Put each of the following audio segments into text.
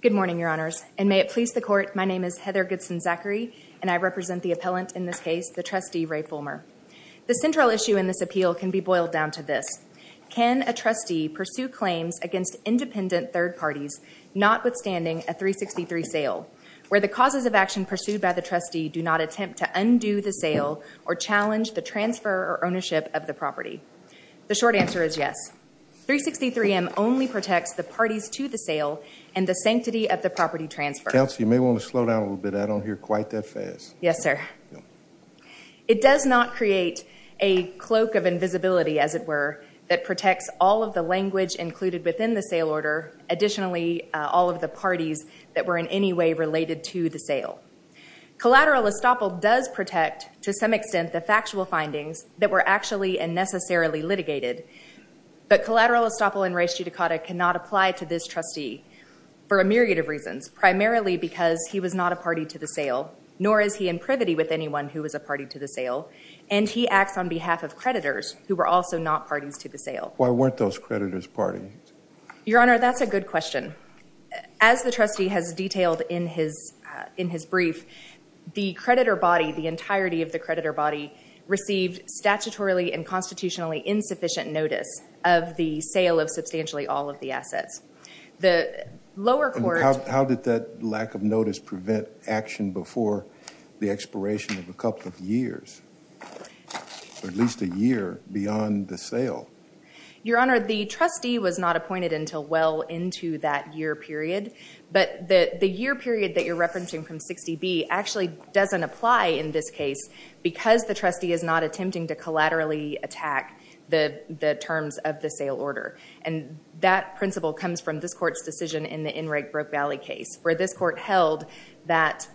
Good morning, Your Honors, and may it please the Court, my name is Heather Goodson-Zachary, and I represent the appellant in this case, the trustee, Ray Fulmer. The central issue in this appeal can be boiled down to this. Can a trustee pursue claims against independent third parties, notwithstanding a 363 sale, where the causes of action pursued by the trustee do not attempt to undo the sale or challenge the transfer or ownership of the property? The short answer is yes. 363M only protects the parties to the sale and the sanctity of the property transfer. Counsel, you may want to slow down a little bit. I don't hear quite that fast. Yes, sir. It does not create a cloak of invisibility, as it were, that protects all of the language included within the sale order, additionally, all of the parties that were in any way related to the sale. Collateral estoppel does protect, to some extent, the factual findings that were actually and necessarily litigated, but collateral estoppel in res judicata cannot apply to this trustee for a myriad of reasons, primarily because he was not a party to the sale, nor is he in privity with anyone who was a party to the sale, and he acts on behalf of creditors who were also not parties to the sale. Why weren't those creditors parties? Your Honor, that's a good question. As the trustee has detailed in his brief, the creditor body, the entirety of the creditor body, received statutorily and constitutionally insufficient notice of the sale of substantially all of the assets. The lower court... How did that lack of notice prevent action before the expiration of a couple of years, or at least a year beyond the sale? Your Honor, the trustee was not appointed until well into that year period, but the year period that you're referencing from 60B actually doesn't apply in this case because the trustee is not attempting to collaterally attack the terms of the sale order, and that principle comes from this court's decision in the Enright-Brook Valley case, where this court held that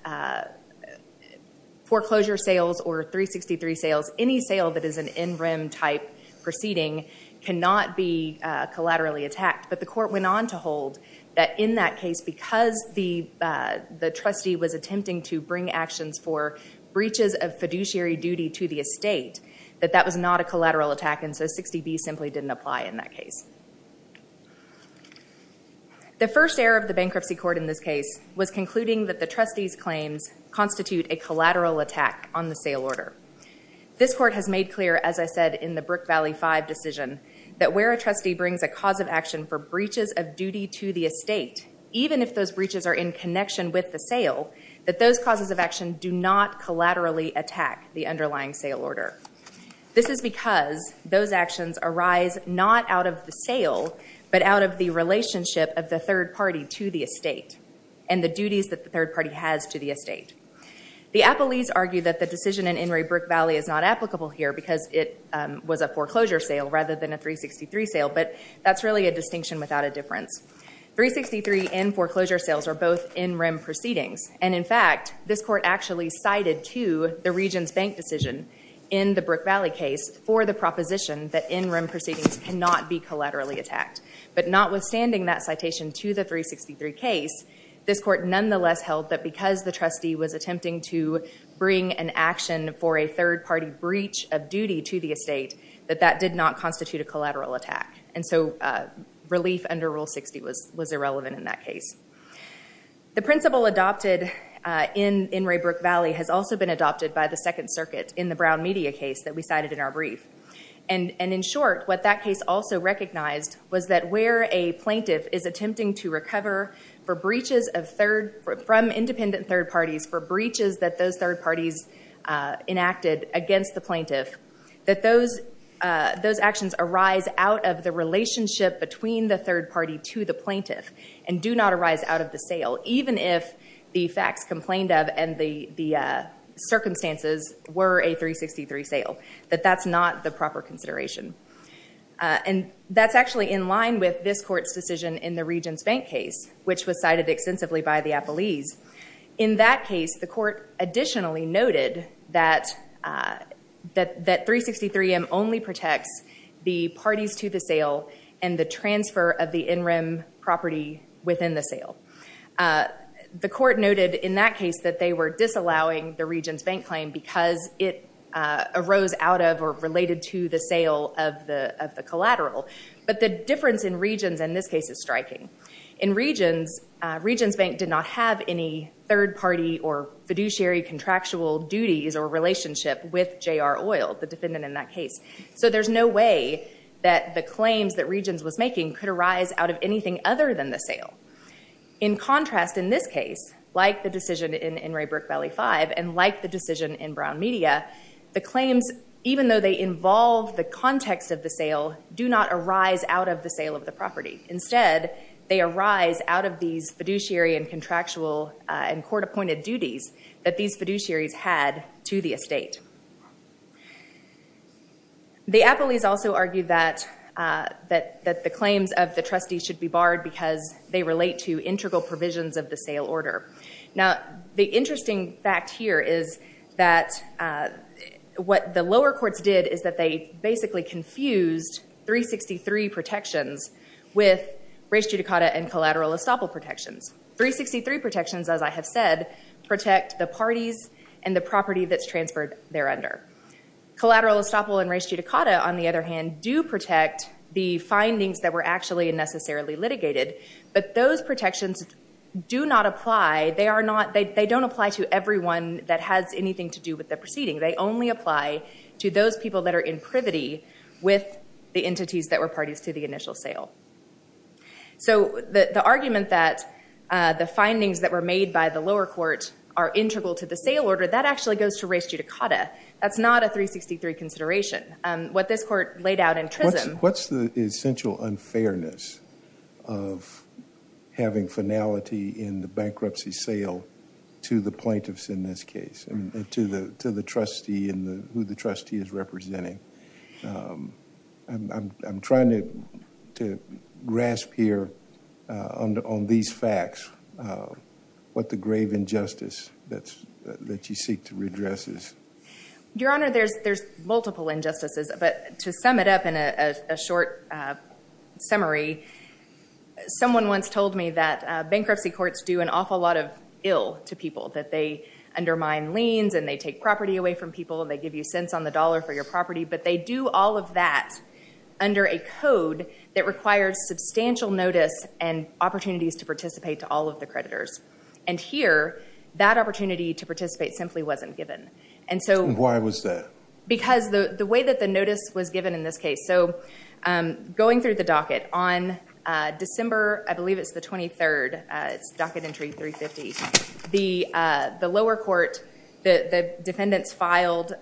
foreclosure sales or 363 sales, any sale that is an in-rim type proceeding, cannot be collaterally attacked. But the court went on to hold that in that case, because the trustee was attempting to bring actions for breaches of fiduciary duty to the estate, that that was not a collateral attack, and so 60B simply didn't apply in that case. The first error of the bankruptcy court in this case was concluding that the trustee's claims constitute a collateral attack on the sale order. This court has made clear, as I said in the Brook Valley 5 decision, that where a trustee brings a cause of action for breaches of duty to the estate, even if those breaches are in connection with the sale, that those causes of action do not collaterally attack the underlying sale order. This is because those actions arise not out of the sale, but out of the relationship of the third party to the estate, and the duties that the third party has to the estate. The appellees argue that the decision in Inouye Brook Valley is not applicable here, because it was a foreclosure sale rather than a 363 sale, but that's really a distinction without a difference. 363 and foreclosure sales are both in-rim proceedings, and in fact, this court actually cited to the region's bank decision in the Brook Valley case for the proposition that in-rim proceedings cannot be collaterally attacked. But notwithstanding that citation to the 363 case, this court nonetheless held that because the trustee was attempting to bring an action for a third party breach of duty to the estate, that that did not constitute a collateral attack. And so relief under Rule 60 was irrelevant in that case. The principle adopted in Inouye Brook Valley has also been adopted by the Second Circuit in the Brown Media case that we cited in our brief. And in short, what that case also recognized was that where a plaintiff is attempting to recover from independent third parties for breaches that those third parties enacted against the plaintiff, that those actions arise out of the relationship between the third party to the plaintiff and do not arise out of the sale, even if the facts complained of and the circumstances were a 363 sale, that that's not the proper consideration. And that's actually in line with this court's decision in the Regents Bank case, which was cited extensively by the appellees. In that case, the court additionally noted that 363M only protects the parties to the sale and the transfer of the in-rim property within the sale. The court noted in that case that they were disallowing the Regents Bank claim because it arose out of or related to the sale of the collateral. But the difference in Regents, in this case, is striking. In Regents, Regents Bank did not have any third party or fiduciary contractual duties or relationship with J.R. Oyl, the defendant in that case. So there's no way that the claims that Regents was making could arise out of anything other than the sale. In contrast, in this case, like the decision in Inouye Brook Valley 5 and like the decision in Brown Media, the claims, even though they involve the context of the sale, do not arise out of the sale of the property. Instead, they arise out of these fiduciary and contractual and court-appointed duties that these fiduciaries had to the estate. The appellees also argued that the claims of the trustees should be barred because they relate to integral provisions of the sale order. Now, the interesting fact here is that what the lower courts did is that they basically confused 363 protections with res judicata and collateral estoppel protections. 363 protections, as I have said, protect the parties and the property that's transferred there under. Collateral estoppel and res judicata, on the other hand, do protect the findings that were actually and necessarily litigated, but those protections do not apply. They don't apply to everyone that has anything to do with the proceeding. They only apply to those people that are in privity with the entities that were parties to the initial sale. So, the argument that the findings that were made by the lower court are integral to the sale order, that actually goes to res judicata. That's not a 363 consideration. What this court laid out in Trism— What's the essential unfairness of having finality in the bankruptcy sale to the plaintiffs in this case and to the trustee and who the trustee is representing? I'm trying to grasp here on these facts what the grave injustice that you seek to redress is. Your Honor, there's multiple injustices, but to sum it up in a short summary, someone once told me that bankruptcy courts do an awful lot of ill to people, that they undermine liens and they take property away from people and they give you cents on the dollar for your property, but they do all of that under a code that requires substantial notice and opportunities to participate to all of the creditors. And here, that opportunity to participate simply wasn't given. And so— Why was that? Because the way that the notice was given in this case— So, going through the docket, on December, I believe it's the 23rd, it's docket entry 350, the lower court, the defendants filed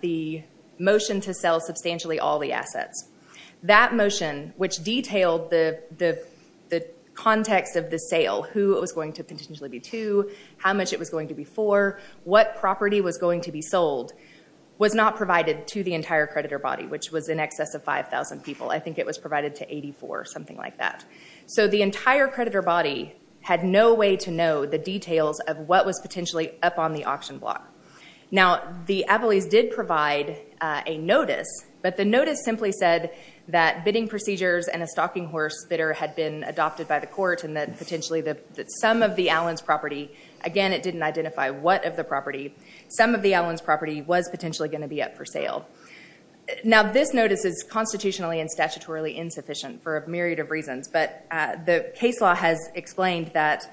the motion to sell substantially all the assets. That motion, which detailed the context of the sale, who it was going to potentially be to, how much it was going to be for, what property was going to be sold, was not provided to the entire creditor body, which was in excess of 5,000 people. I think it was provided to 84, something like that. So, the entire creditor body had no way to know the details of what was potentially up on the auction block. Now, the Appellees did provide a notice, but the notice simply said that bidding procedures and a stocking horse bidder had been adopted by the court and that potentially some of the Allens property, again, it didn't identify what of the property, some of the Allens property was potentially going to be up for sale. Now, this notice is constitutionally and statutorily insufficient for a myriad of reasons, but the case law has explained that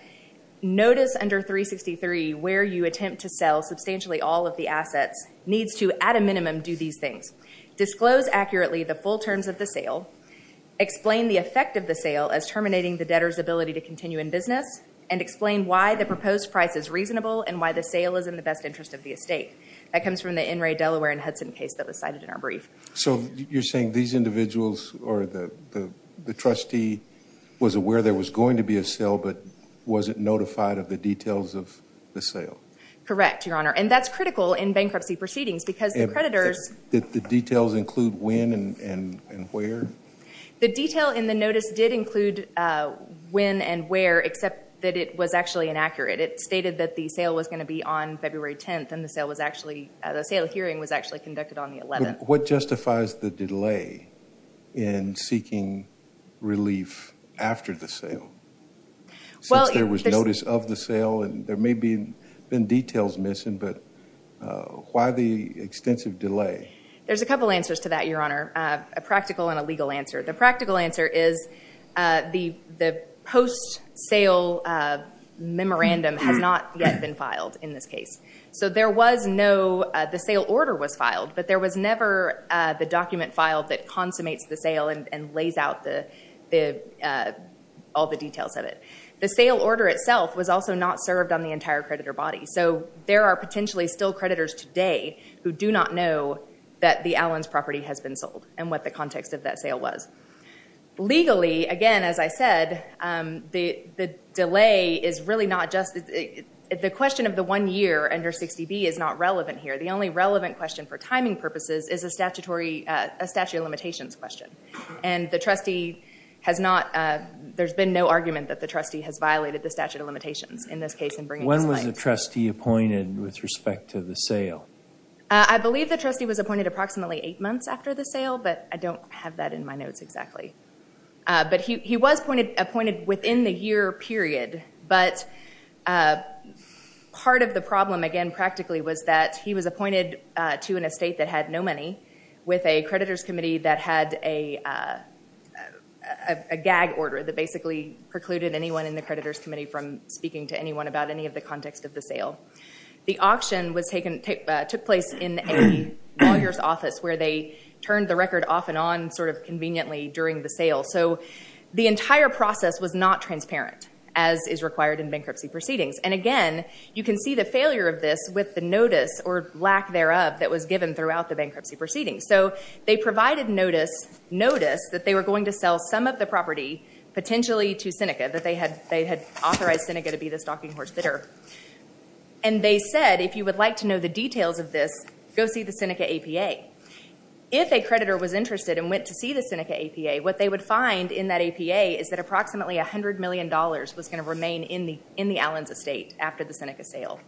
notice under 363 where you attempt to sell substantially all of the assets needs to, at a minimum, do these things. Disclose accurately the full terms of the sale, explain the effect of the sale as terminating the debtor's ability to continue in business, and explain why the proposed price is reasonable and why the sale is in the best interest of the estate. That comes from the NRA Delaware and Hudson case that was cited in our brief. So, you're saying these individuals, or the trustee, was aware there was going to be a sale, but wasn't notified of the details of the sale? Correct, Your Honor, and that's critical in bankruptcy proceedings because the creditors... Did the details include when and where? The detail in the notice did include when and where, except that it was actually inaccurate. It stated that the sale was going to be on February 10th, and the sale hearing was actually conducted on the 11th. What justifies the delay in seeking relief after the sale? Since there was notice of the sale, and there may have been details missing, but why the extensive delay? There's a couple answers to that, Your Honor, a practical and a legal answer. The practical answer is the post-sale memorandum has not yet been filed in this case. So, the sale order was filed, but there was never the document filed that consummates the sale and lays out all the details of it. The sale order itself was also not served on the entire creditor body. So, there are potentially still creditors today who do not know that the Allens property has been sold and what the context of that sale was. Legally, again, as I said, the delay is really not just... The question of the one year under 60B is not relevant here. The only relevant question for timing purposes is a statute of limitations question. And the trustee has not... There's been no argument that the trustee has violated the statute of limitations in this case in bringing this light. When was the trustee appointed with respect to the sale? I believe the trustee was appointed approximately eight months after the sale, but I don't have that in my notes exactly. But he was appointed within the year period. But part of the problem, again, practically, was that he was appointed to an estate that had no money with a creditors committee that had a gag order that basically precluded anyone in the creditors committee from speaking to anyone about any of the context of the sale. The auction took place in a lawyer's office where they turned the record off and on sort of conveniently during the sale. So the entire process was not transparent as is required in bankruptcy proceedings. And again, you can see the failure of this with the notice or lack thereof that was given throughout the bankruptcy proceedings. So they provided notice that they were going to sell some of the property potentially to Seneca, that they had authorized Seneca to be the stocking horse bidder. And they said, if you would like to know the details of this, go see the Seneca APA. If a creditor was interested and went to see the Seneca APA, what they would find in that APA is that approximately $100 million was going to remain in the Allens estate after the Seneca sale.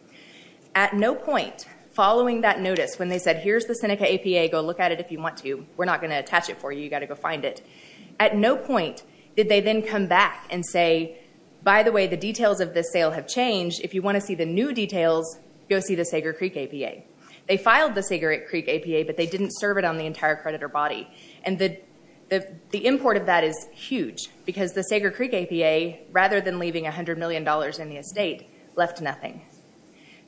At no point following that notice when they said, here's the Seneca APA, go look at it if you want to, we're not going to attach it for you, you've got to go find it. At no point did they then come back and say, by the way, the details of this sale have changed, if you want to see the new details, go see the Sager Creek APA. They filed the Sager Creek APA, but they didn't serve it on the entire creditor body. And the import of that is huge, because the Sager Creek APA, rather than leaving $100 million in the estate, left nothing.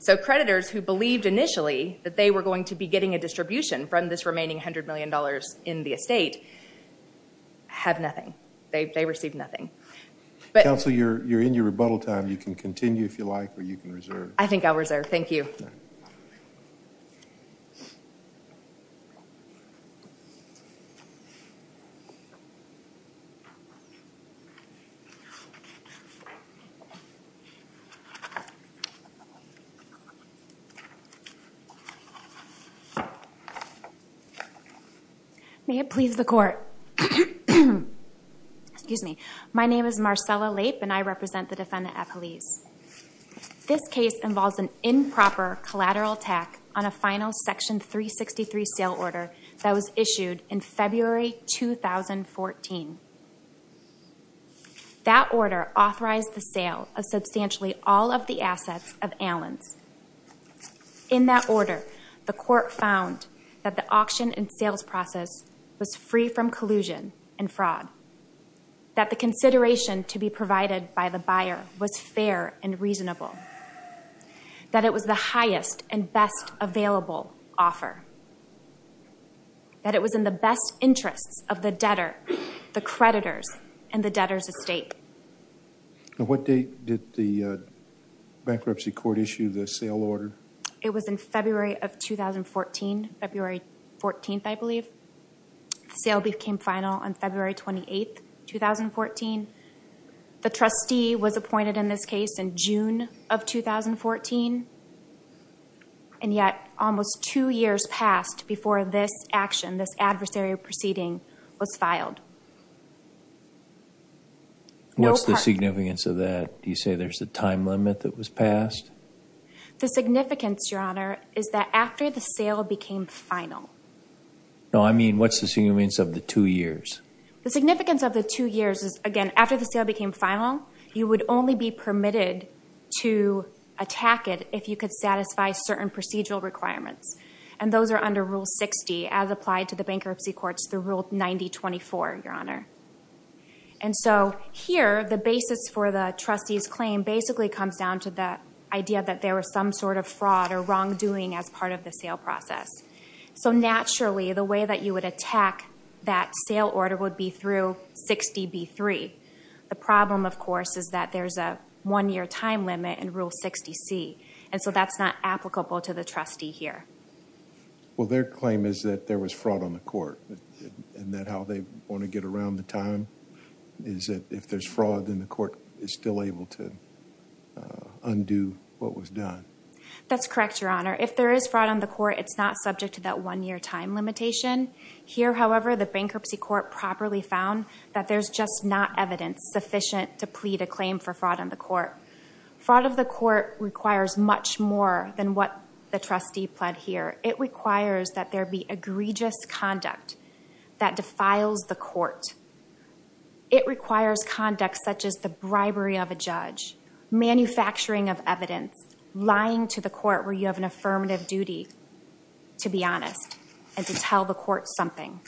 So creditors who believed initially that they were going to be getting a distribution from this remaining $100 million in the estate, have nothing. They received nothing. Counsel, you're in your rebuttal time. You can continue if you like, or you can reserve. I think I'll reserve, thank you. May it please the court. Excuse me. My name is Marcella Lape, and I represent the defendant at police. This case involves an improper collateral attack on a final Section 363 sale order that was issued in February 2014. That order authorized the sale of substantially all of the assets of Allens. In that order, the court found that the auction and sales process was free from collusion and fraud. That the consideration to be provided by the buyer was fair and reasonable. That it was the highest and best available offer. That it was in the best interests of the debtor, the creditors, and the debtor's estate. At what date did the bankruptcy court issue the sale order? It was in February of 2014. February 14th, I believe. The sale became final on February 28th, 2014. The trustee was appointed in this case in June of 2014. And yet, almost two years passed before this action, this adversary proceeding, was filed. What's the significance of that? Do you say there's a time limit that was passed? The significance, Your Honor, is that after the sale became final. No, I mean, what's the significance of the two years? The significance of the two years is, again, after the sale became final, you would only be permitted to attack it if you could satisfy certain procedural requirements. And those are under Rule 60, as applied to the bankruptcy courts through Rule 9024, Your Honor. And so here, the basis for the trustee's claim basically comes down to the idea that there was some sort of fraud or wrongdoing as part of the sale process. So naturally, the way that you would attack that sale order would be through 60B3. The problem, of course, is that there's a one-year time limit in Rule 60C. And so that's not applicable to the trustee here. Well, their claim is that there was fraud on the court. And that how they want to get around the time is that if there's fraud, then the court is still able to undo what was done. That's correct, Your Honor. If there is fraud on the court, it's not subject to that one-year time limitation. Here, however, the bankruptcy court properly found that there's just not evidence sufficient to plead a claim for fraud on the court. Fraud of the court requires much more than what the trustee pled here. It requires that there be egregious conduct that defiles the court. It requires conduct such as the bribery of a judge, manufacturing of evidence, lying to the court where you have an affirmative duty to be honest and to tell the court something.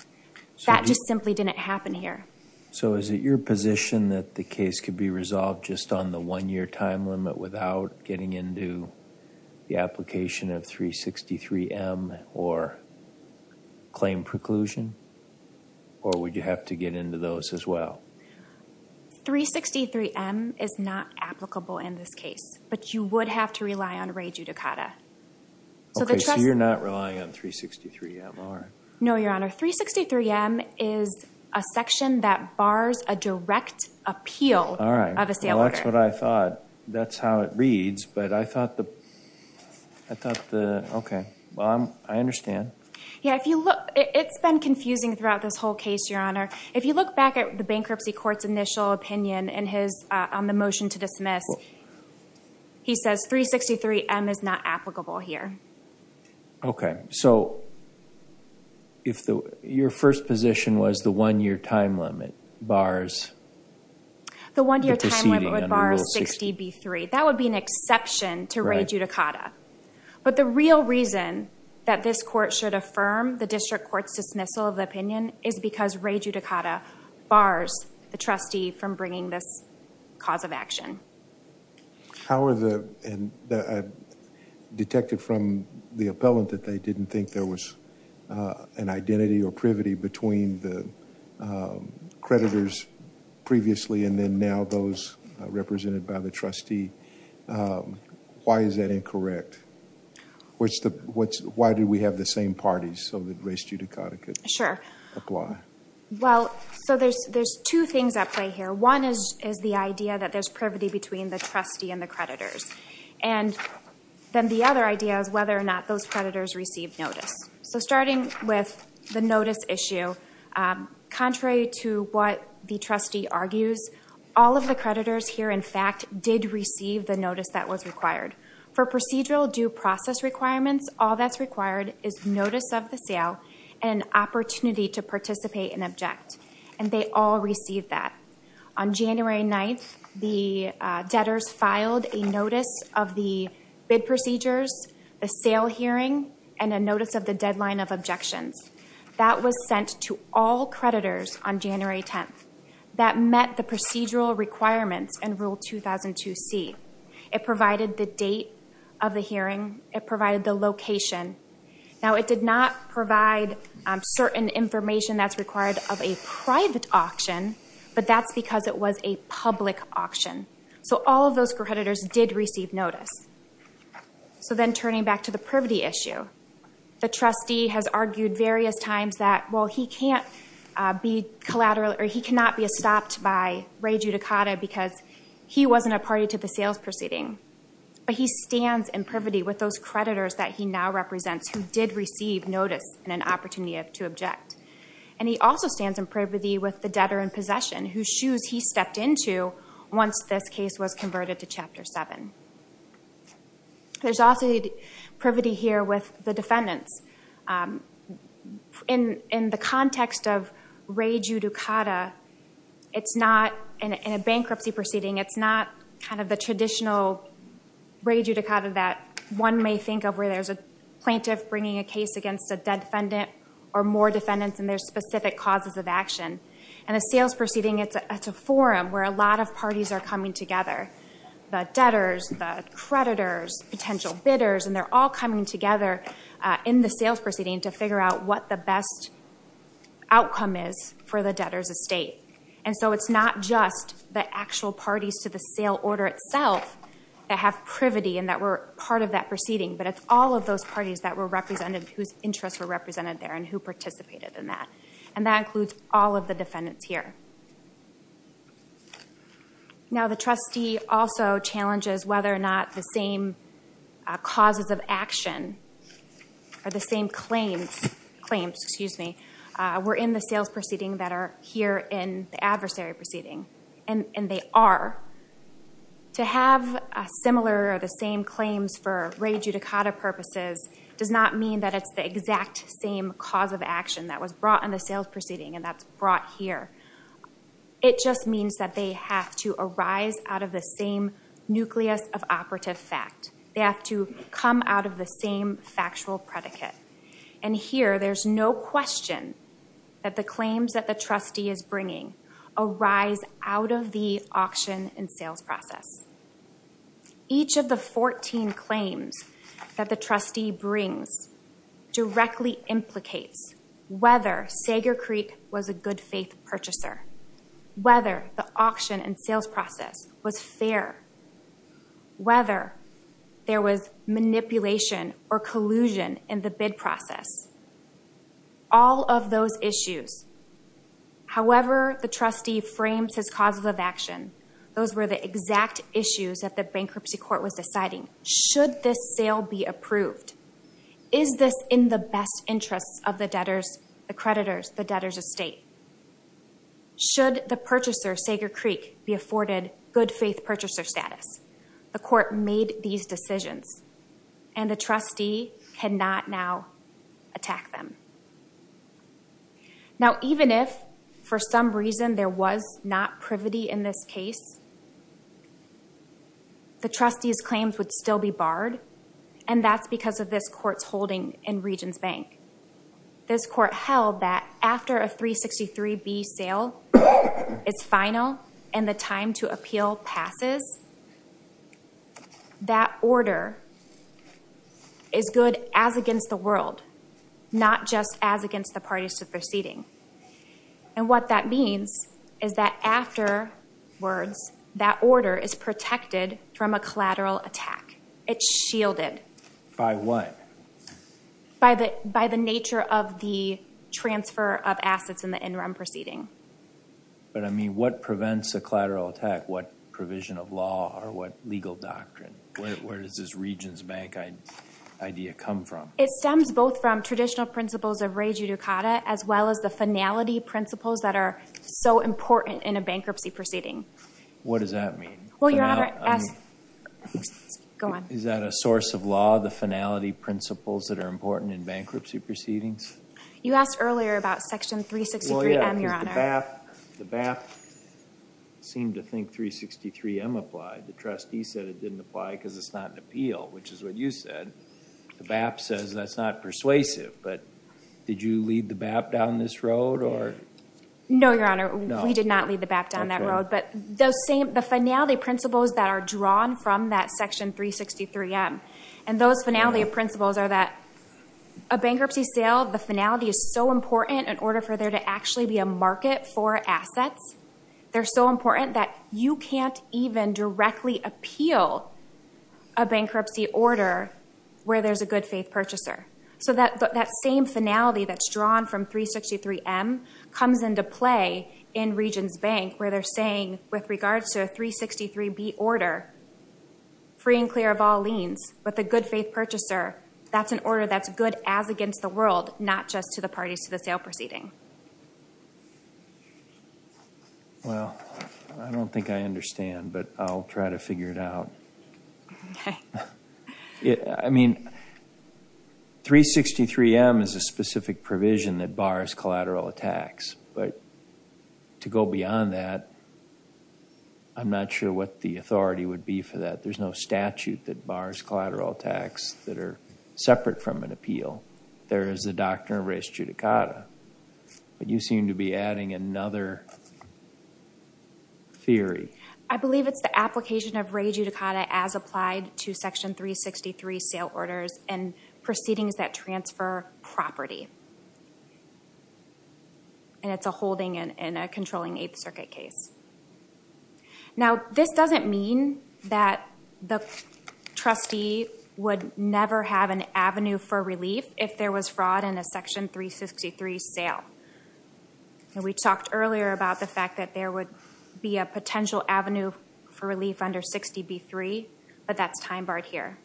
That just simply didn't happen here. So is it your position that the case could be resolved just on the one-year time limit without getting into the application of 363M or claim preclusion? Or would you have to get into those as well? 363M is not applicable in this case. But you would have to rely on re judicata. Okay, so you're not relying on 363MR. No, Your Honor. 363M is a section that bars a direct appeal of a sale order. Well, that's what I thought. That's how it reads. But I thought the, okay. I understand. Yeah, if you look, it's been confusing throughout this whole case, Your Honor. If you look back at the bankruptcy court's initial opinion on the motion to dismiss, he says 363M is not applicable here. Okay, so your first position was the one-year time limit bars the proceeding under Rule 60B3. That would be an exception to re judicata. But the real reason that this court should affirm the district court's dismissal of the opinion is because re judicata bars the trustee from bringing this cause of action. How are the, I detected from the appellant that they didn't think there was an identity or privity between the creditors previously and then now those represented by the trustee. Why is that incorrect? Why do we have the same parties so that re judicata could apply? Sure. Well, so there's two things at play here. One is the idea that there's privity between the trustee and the creditors. And then the other idea is whether or not those creditors received notice. So starting with the notice issue, contrary to what the trustee argues, all of the creditors here, in fact, did receive the notice that was required. For procedural due process requirements, all that's required is notice of the sale and an opportunity to participate and object. And they all received that. On January 9th, the debtors filed a notice of the bid procedures, the sale hearing, and a notice of the deadline of objections. That was sent to all creditors on January 10th. That met the procedural requirements in Rule 2002C. It provided the date of the hearing. It provided the location. Now, it did not provide certain information that's required of a private auction, but that's because it was a public auction. So all of those creditors did receive notice. So then turning back to the privity issue, the trustee has argued various times that, well, he cannot be stopped by re judicata because he wasn't a party to the sales proceeding. But he stands in privity with those creditors that he now represents who did receive notice and an opportunity to object. And he also stands in privity with the debtor in possession, whose shoes he stepped into once this case was converted to Chapter 7. There's also privity here with the defendants. In the context of re judicata, in a bankruptcy proceeding, it's not kind of the traditional re judicata that one may think of where there's a plaintiff bringing a case against a dead defendant or more defendants and there's specific causes of action. In a sales proceeding, it's a forum where a lot of parties are coming together, the debtors, the creditors, potential bidders, and they're all coming together in the sales proceeding to figure out what the best outcome is for the debtor's estate. And so it's not just the actual parties to the sale order itself that have privity and that were part of that proceeding, but it's all of those parties that were represented, whose interests were represented there and who participated in that. And that includes all of the defendants here. Now, the trustee also challenges whether or not the same causes of action or the same claims were in the sales proceeding that are here in the adversary proceeding, and they are. To have similar or the same claims for re judicata purposes does not mean that it's the exact same cause of action that was brought in the sales proceeding and that's brought here. It just means that they have to arise out of the same nucleus of operative fact. They have to come out of the same factual predicate. And here there's no question that the claims that the trustee is bringing arise out of the auction and sales process. Each of the 14 claims that the trustee brings directly implicates whether Sager Creek was a good faith purchaser, whether the auction and sales process was fair, whether there was manipulation or collusion in the bid process. All of those issues. However, the trustee frames his causes of action. Those were the exact issues that the bankruptcy court was deciding. Should this sale be approved? Is this in the best interests of the debtors, the creditors, the debtors of state? Should the purchaser, Sager Creek, be afforded good faith purchaser status? The court made these decisions and the trustee cannot now attack them. Now even if for some reason there was not privity in this case, the trustee's claims would still be barred and that's because of this court's holding in Regions Bank. This court held that after a 363B sale is final and the time to appeal passes, that order is good as against the world, not just as against the parties to the proceeding. And what that means is that afterwards, that order is protected from a collateral attack. It's shielded. By what? By the nature of the transfer of assets in the interim proceeding. But I mean, what prevents a collateral attack? What provision of law or what legal doctrine? Where does this Regions Bank idea come from? It stems both from traditional principles of re judicata as well as the finality principles that are so important in a bankruptcy proceeding. What does that mean? Well, Your Honor, ask. Go on. Is that a source of law, the finality principles that are important in bankruptcy proceedings? You asked earlier about Section 363M, Your Honor. The BAP seemed to think 363M applied. The trustee said it didn't apply because it's not an appeal, which is what you said. The BAP says that's not persuasive. But did you lead the BAP down this road? No, Your Honor. We did not lead the BAP down that road. But the finality principles that are drawn from that Section 363M and those finality principles are that a bankruptcy sale, the finality is so important in order for there to actually be a market for assets. They're so important that you can't even directly appeal a bankruptcy order where there's a good faith purchaser. So that same finality that's drawn from 363M comes into play in Regions Bank where they're saying with regards to a 363B order, free and clear of all liens, with a good faith purchaser, that's an order that's good as against the world, not just to the parties to the sale proceeding. Well, I don't think I understand, but I'll try to figure it out. Okay. I mean, 363M is a specific provision that bars collateral attacks. But to go beyond that, I'm not sure what the authority would be for that. There's no statute that bars collateral attacks that are separate from an appeal. There is the doctrine of res judicata. But you seem to be adding another theory. I believe it's the application of res judicata as applied to Section 363 sale orders and proceedings that transfer property. And it's a holding in a controlling Eighth Circuit case. Now, this doesn't mean that the trustee would never have an avenue for relief if there was fraud in a Section 363 sale. We talked earlier about the fact that there would be a potential avenue for relief under 60B3, but that's time-barred here.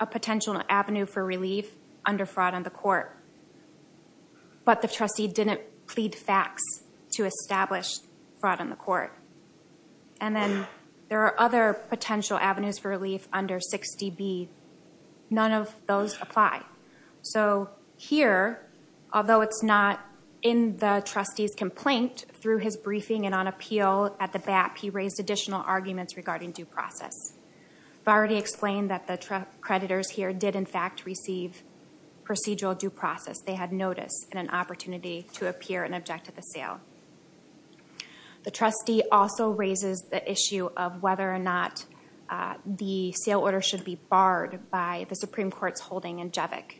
A potential avenue for relief under fraud on the court. But the trustee didn't plead facts to establish fraud on the court. And then there are other potential avenues for relief under 60B. None of those apply. So here, although it's not in the trustee's complaint, through his briefing and on appeal at the BAP, he raised additional arguments regarding due process. I've already explained that the creditors here did, in fact, receive procedural due process. They had notice and an opportunity to appear and object to the sale. The trustee also raises the issue of whether or not the sale order should be barred by the Supreme Court's holding in Jevik.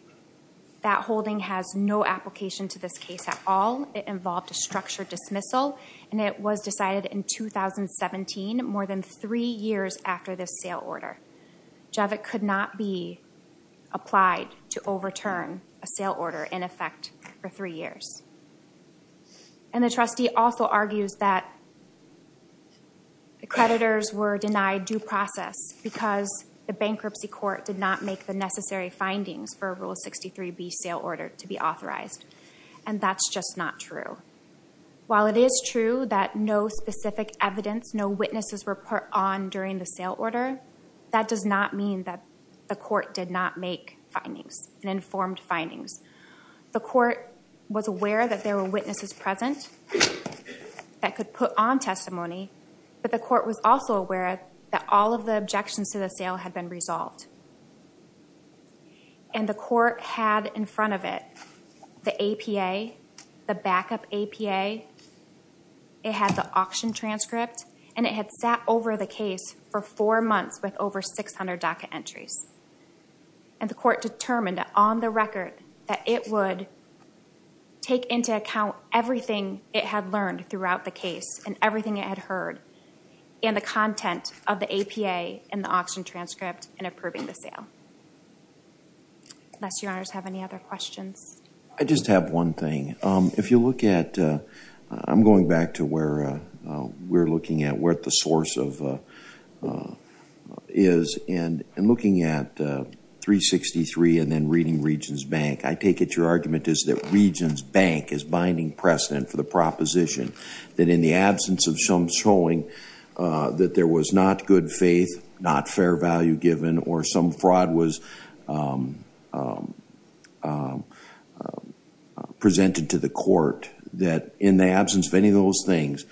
That holding has no application to this case at all. It involved a structured dismissal, and it was decided in 2017, more than three years after this sale order. Jevik could not be applied to overturn a sale order, in effect, for three years. And the trustee also argues that the creditors were denied due process because the bankruptcy court did not make the necessary findings for Rule 63B sale order to be authorized. And that's just not true. While it is true that no specific evidence, no witnesses were put on during the sale order, that does not mean that the court did not make findings and informed findings. The court was aware that there were witnesses present that could put on testimony, but the court was also aware that all of the objections to the sale had been resolved. And the court had in front of it the APA, the backup APA, it had the auction transcript, and it had sat over the case for four months with over 600 DACA entries. And the court determined on the record that it would take into account everything it had learned throughout the case and everything it had heard and the content of the APA and the auction transcript in approving the sale. Unless your honors have any other questions. I just have one thing. If you look at, I'm going back to where we're looking at, where the source is, and looking at 363 and then reading Regents Bank, I take it your argument is that Regents Bank is binding precedent for the proposition that in the absence of some showing that there was not good faith, not fair value given, or some fraud was presented to the court, that in the absence of any of those things,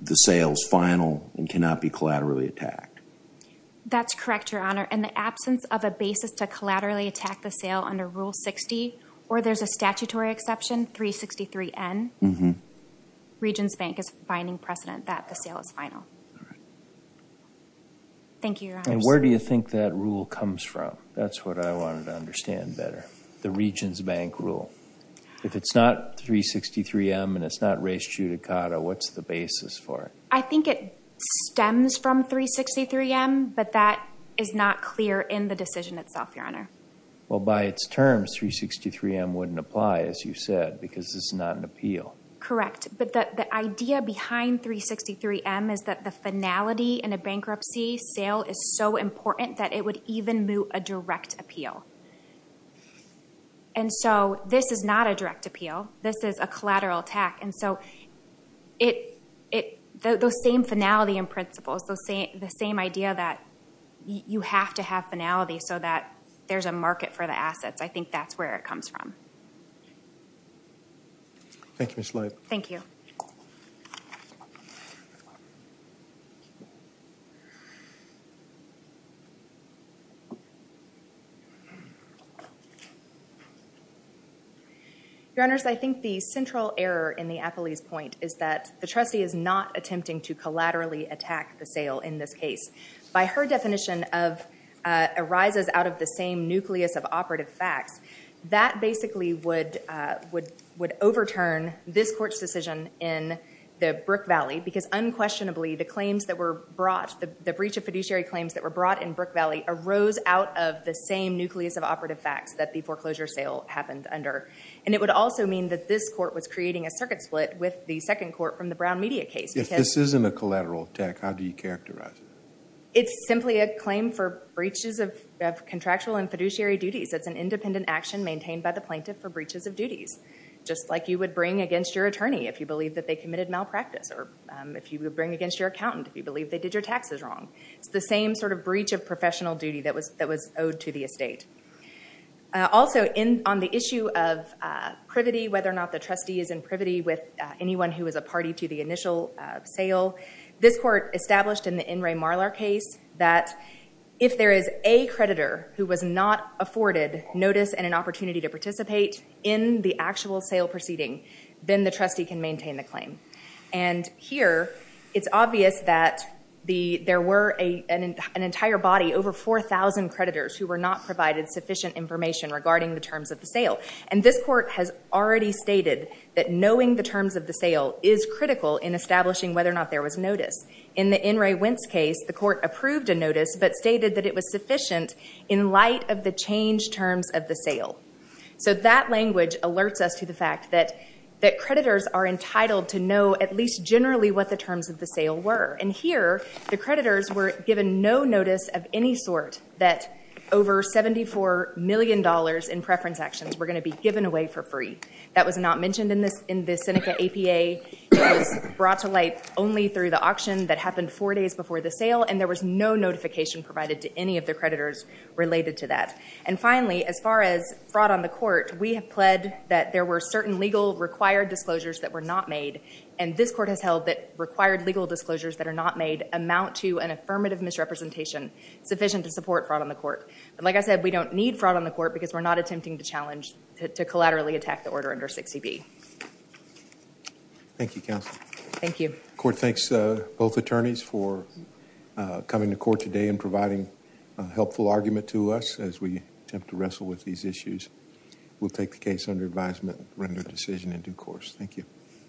the sale is final and cannot be collaterally attacked. That's correct, your honor. In the absence of a basis to collaterally attack the sale under Rule 60, or there's a statutory exception, 363N, Regents Bank is binding precedent that the sale is final. All right. Thank you, your honors. And where do you think that rule comes from? That's what I wanted to understand better, the Regents Bank rule. If it's not 363M and it's not res judicata, what's the basis for it? I think it stems from 363M, but that is not clear in the decision itself, your honor. Well, by its terms, 363M wouldn't apply, as you said, because it's not an appeal. Correct, but the idea behind 363M is that the finality in a bankruptcy sale is so important that it would even moot a direct appeal. And so this is not a direct appeal. This is a collateral attack, and so those same finality and principles, the same idea that you have to have finality so that there's a market for the assets, I think that's where it comes from. Thank you, Ms. Leib. Thank you. Your honors, I think the central error in the Apolli's point is that the trustee is not attempting to collaterally attack the sale in this case. By her definition of arises out of the same nucleus of operative facts, that basically would overturn this court's decision in the Brook Valley because unquestionably the claims that were brought, the breach of fiduciary claims that were brought in Brook Valley arose out of the same nucleus of operative facts that the foreclosure sale happened under. And it would also mean that this court was creating a circuit split with the second court from the Brown Media case. If this isn't a collateral attack, how do you characterize it? It's simply a claim for breaches of contractual and fiduciary duties. Just like you would bring against your attorney if you believe that they committed malpractice or if you would bring against your accountant if you believe they did your taxes wrong. It's the same sort of breach of professional duty that was owed to the estate. Also on the issue of privity, whether or not the trustee is in privity with anyone who was a party to the initial sale, this court established in the N. Ray Marlar case that if there is a creditor who was not afforded notice and an opportunity to participate in the actual sale proceeding, then the trustee can maintain the claim. And here, it's obvious that there were an entire body, over 4,000 creditors who were not provided sufficient information regarding the terms of the sale. And this court has already stated that knowing the terms of the sale is critical in establishing whether or not there was notice. But stated that it was sufficient in light of the changed terms of the sale. So that language alerts us to the fact that creditors are entitled to know at least generally what the terms of the sale were. And here, the creditors were given no notice of any sort that over $74 million in preference actions were going to be given away for free. That was not mentioned in the Seneca APA. It was brought to light only through the auction that happened four days before the sale. And there was no notification provided to any of the creditors related to that. And finally, as far as fraud on the court, we have pled that there were certain legal required disclosures that were not made. And this court has held that required legal disclosures that are not made amount to an affirmative misrepresentation sufficient to support fraud on the court. But like I said, we don't need fraud on the court because we're not attempting to challenge to collaterally attack the order under 60B. Thank you, counsel. Thank you. The court thanks both attorneys for coming to court today and providing a helpful argument to us as we attempt to wrestle with these issues. We'll take the case under advisement and render a decision in due course. Thank you.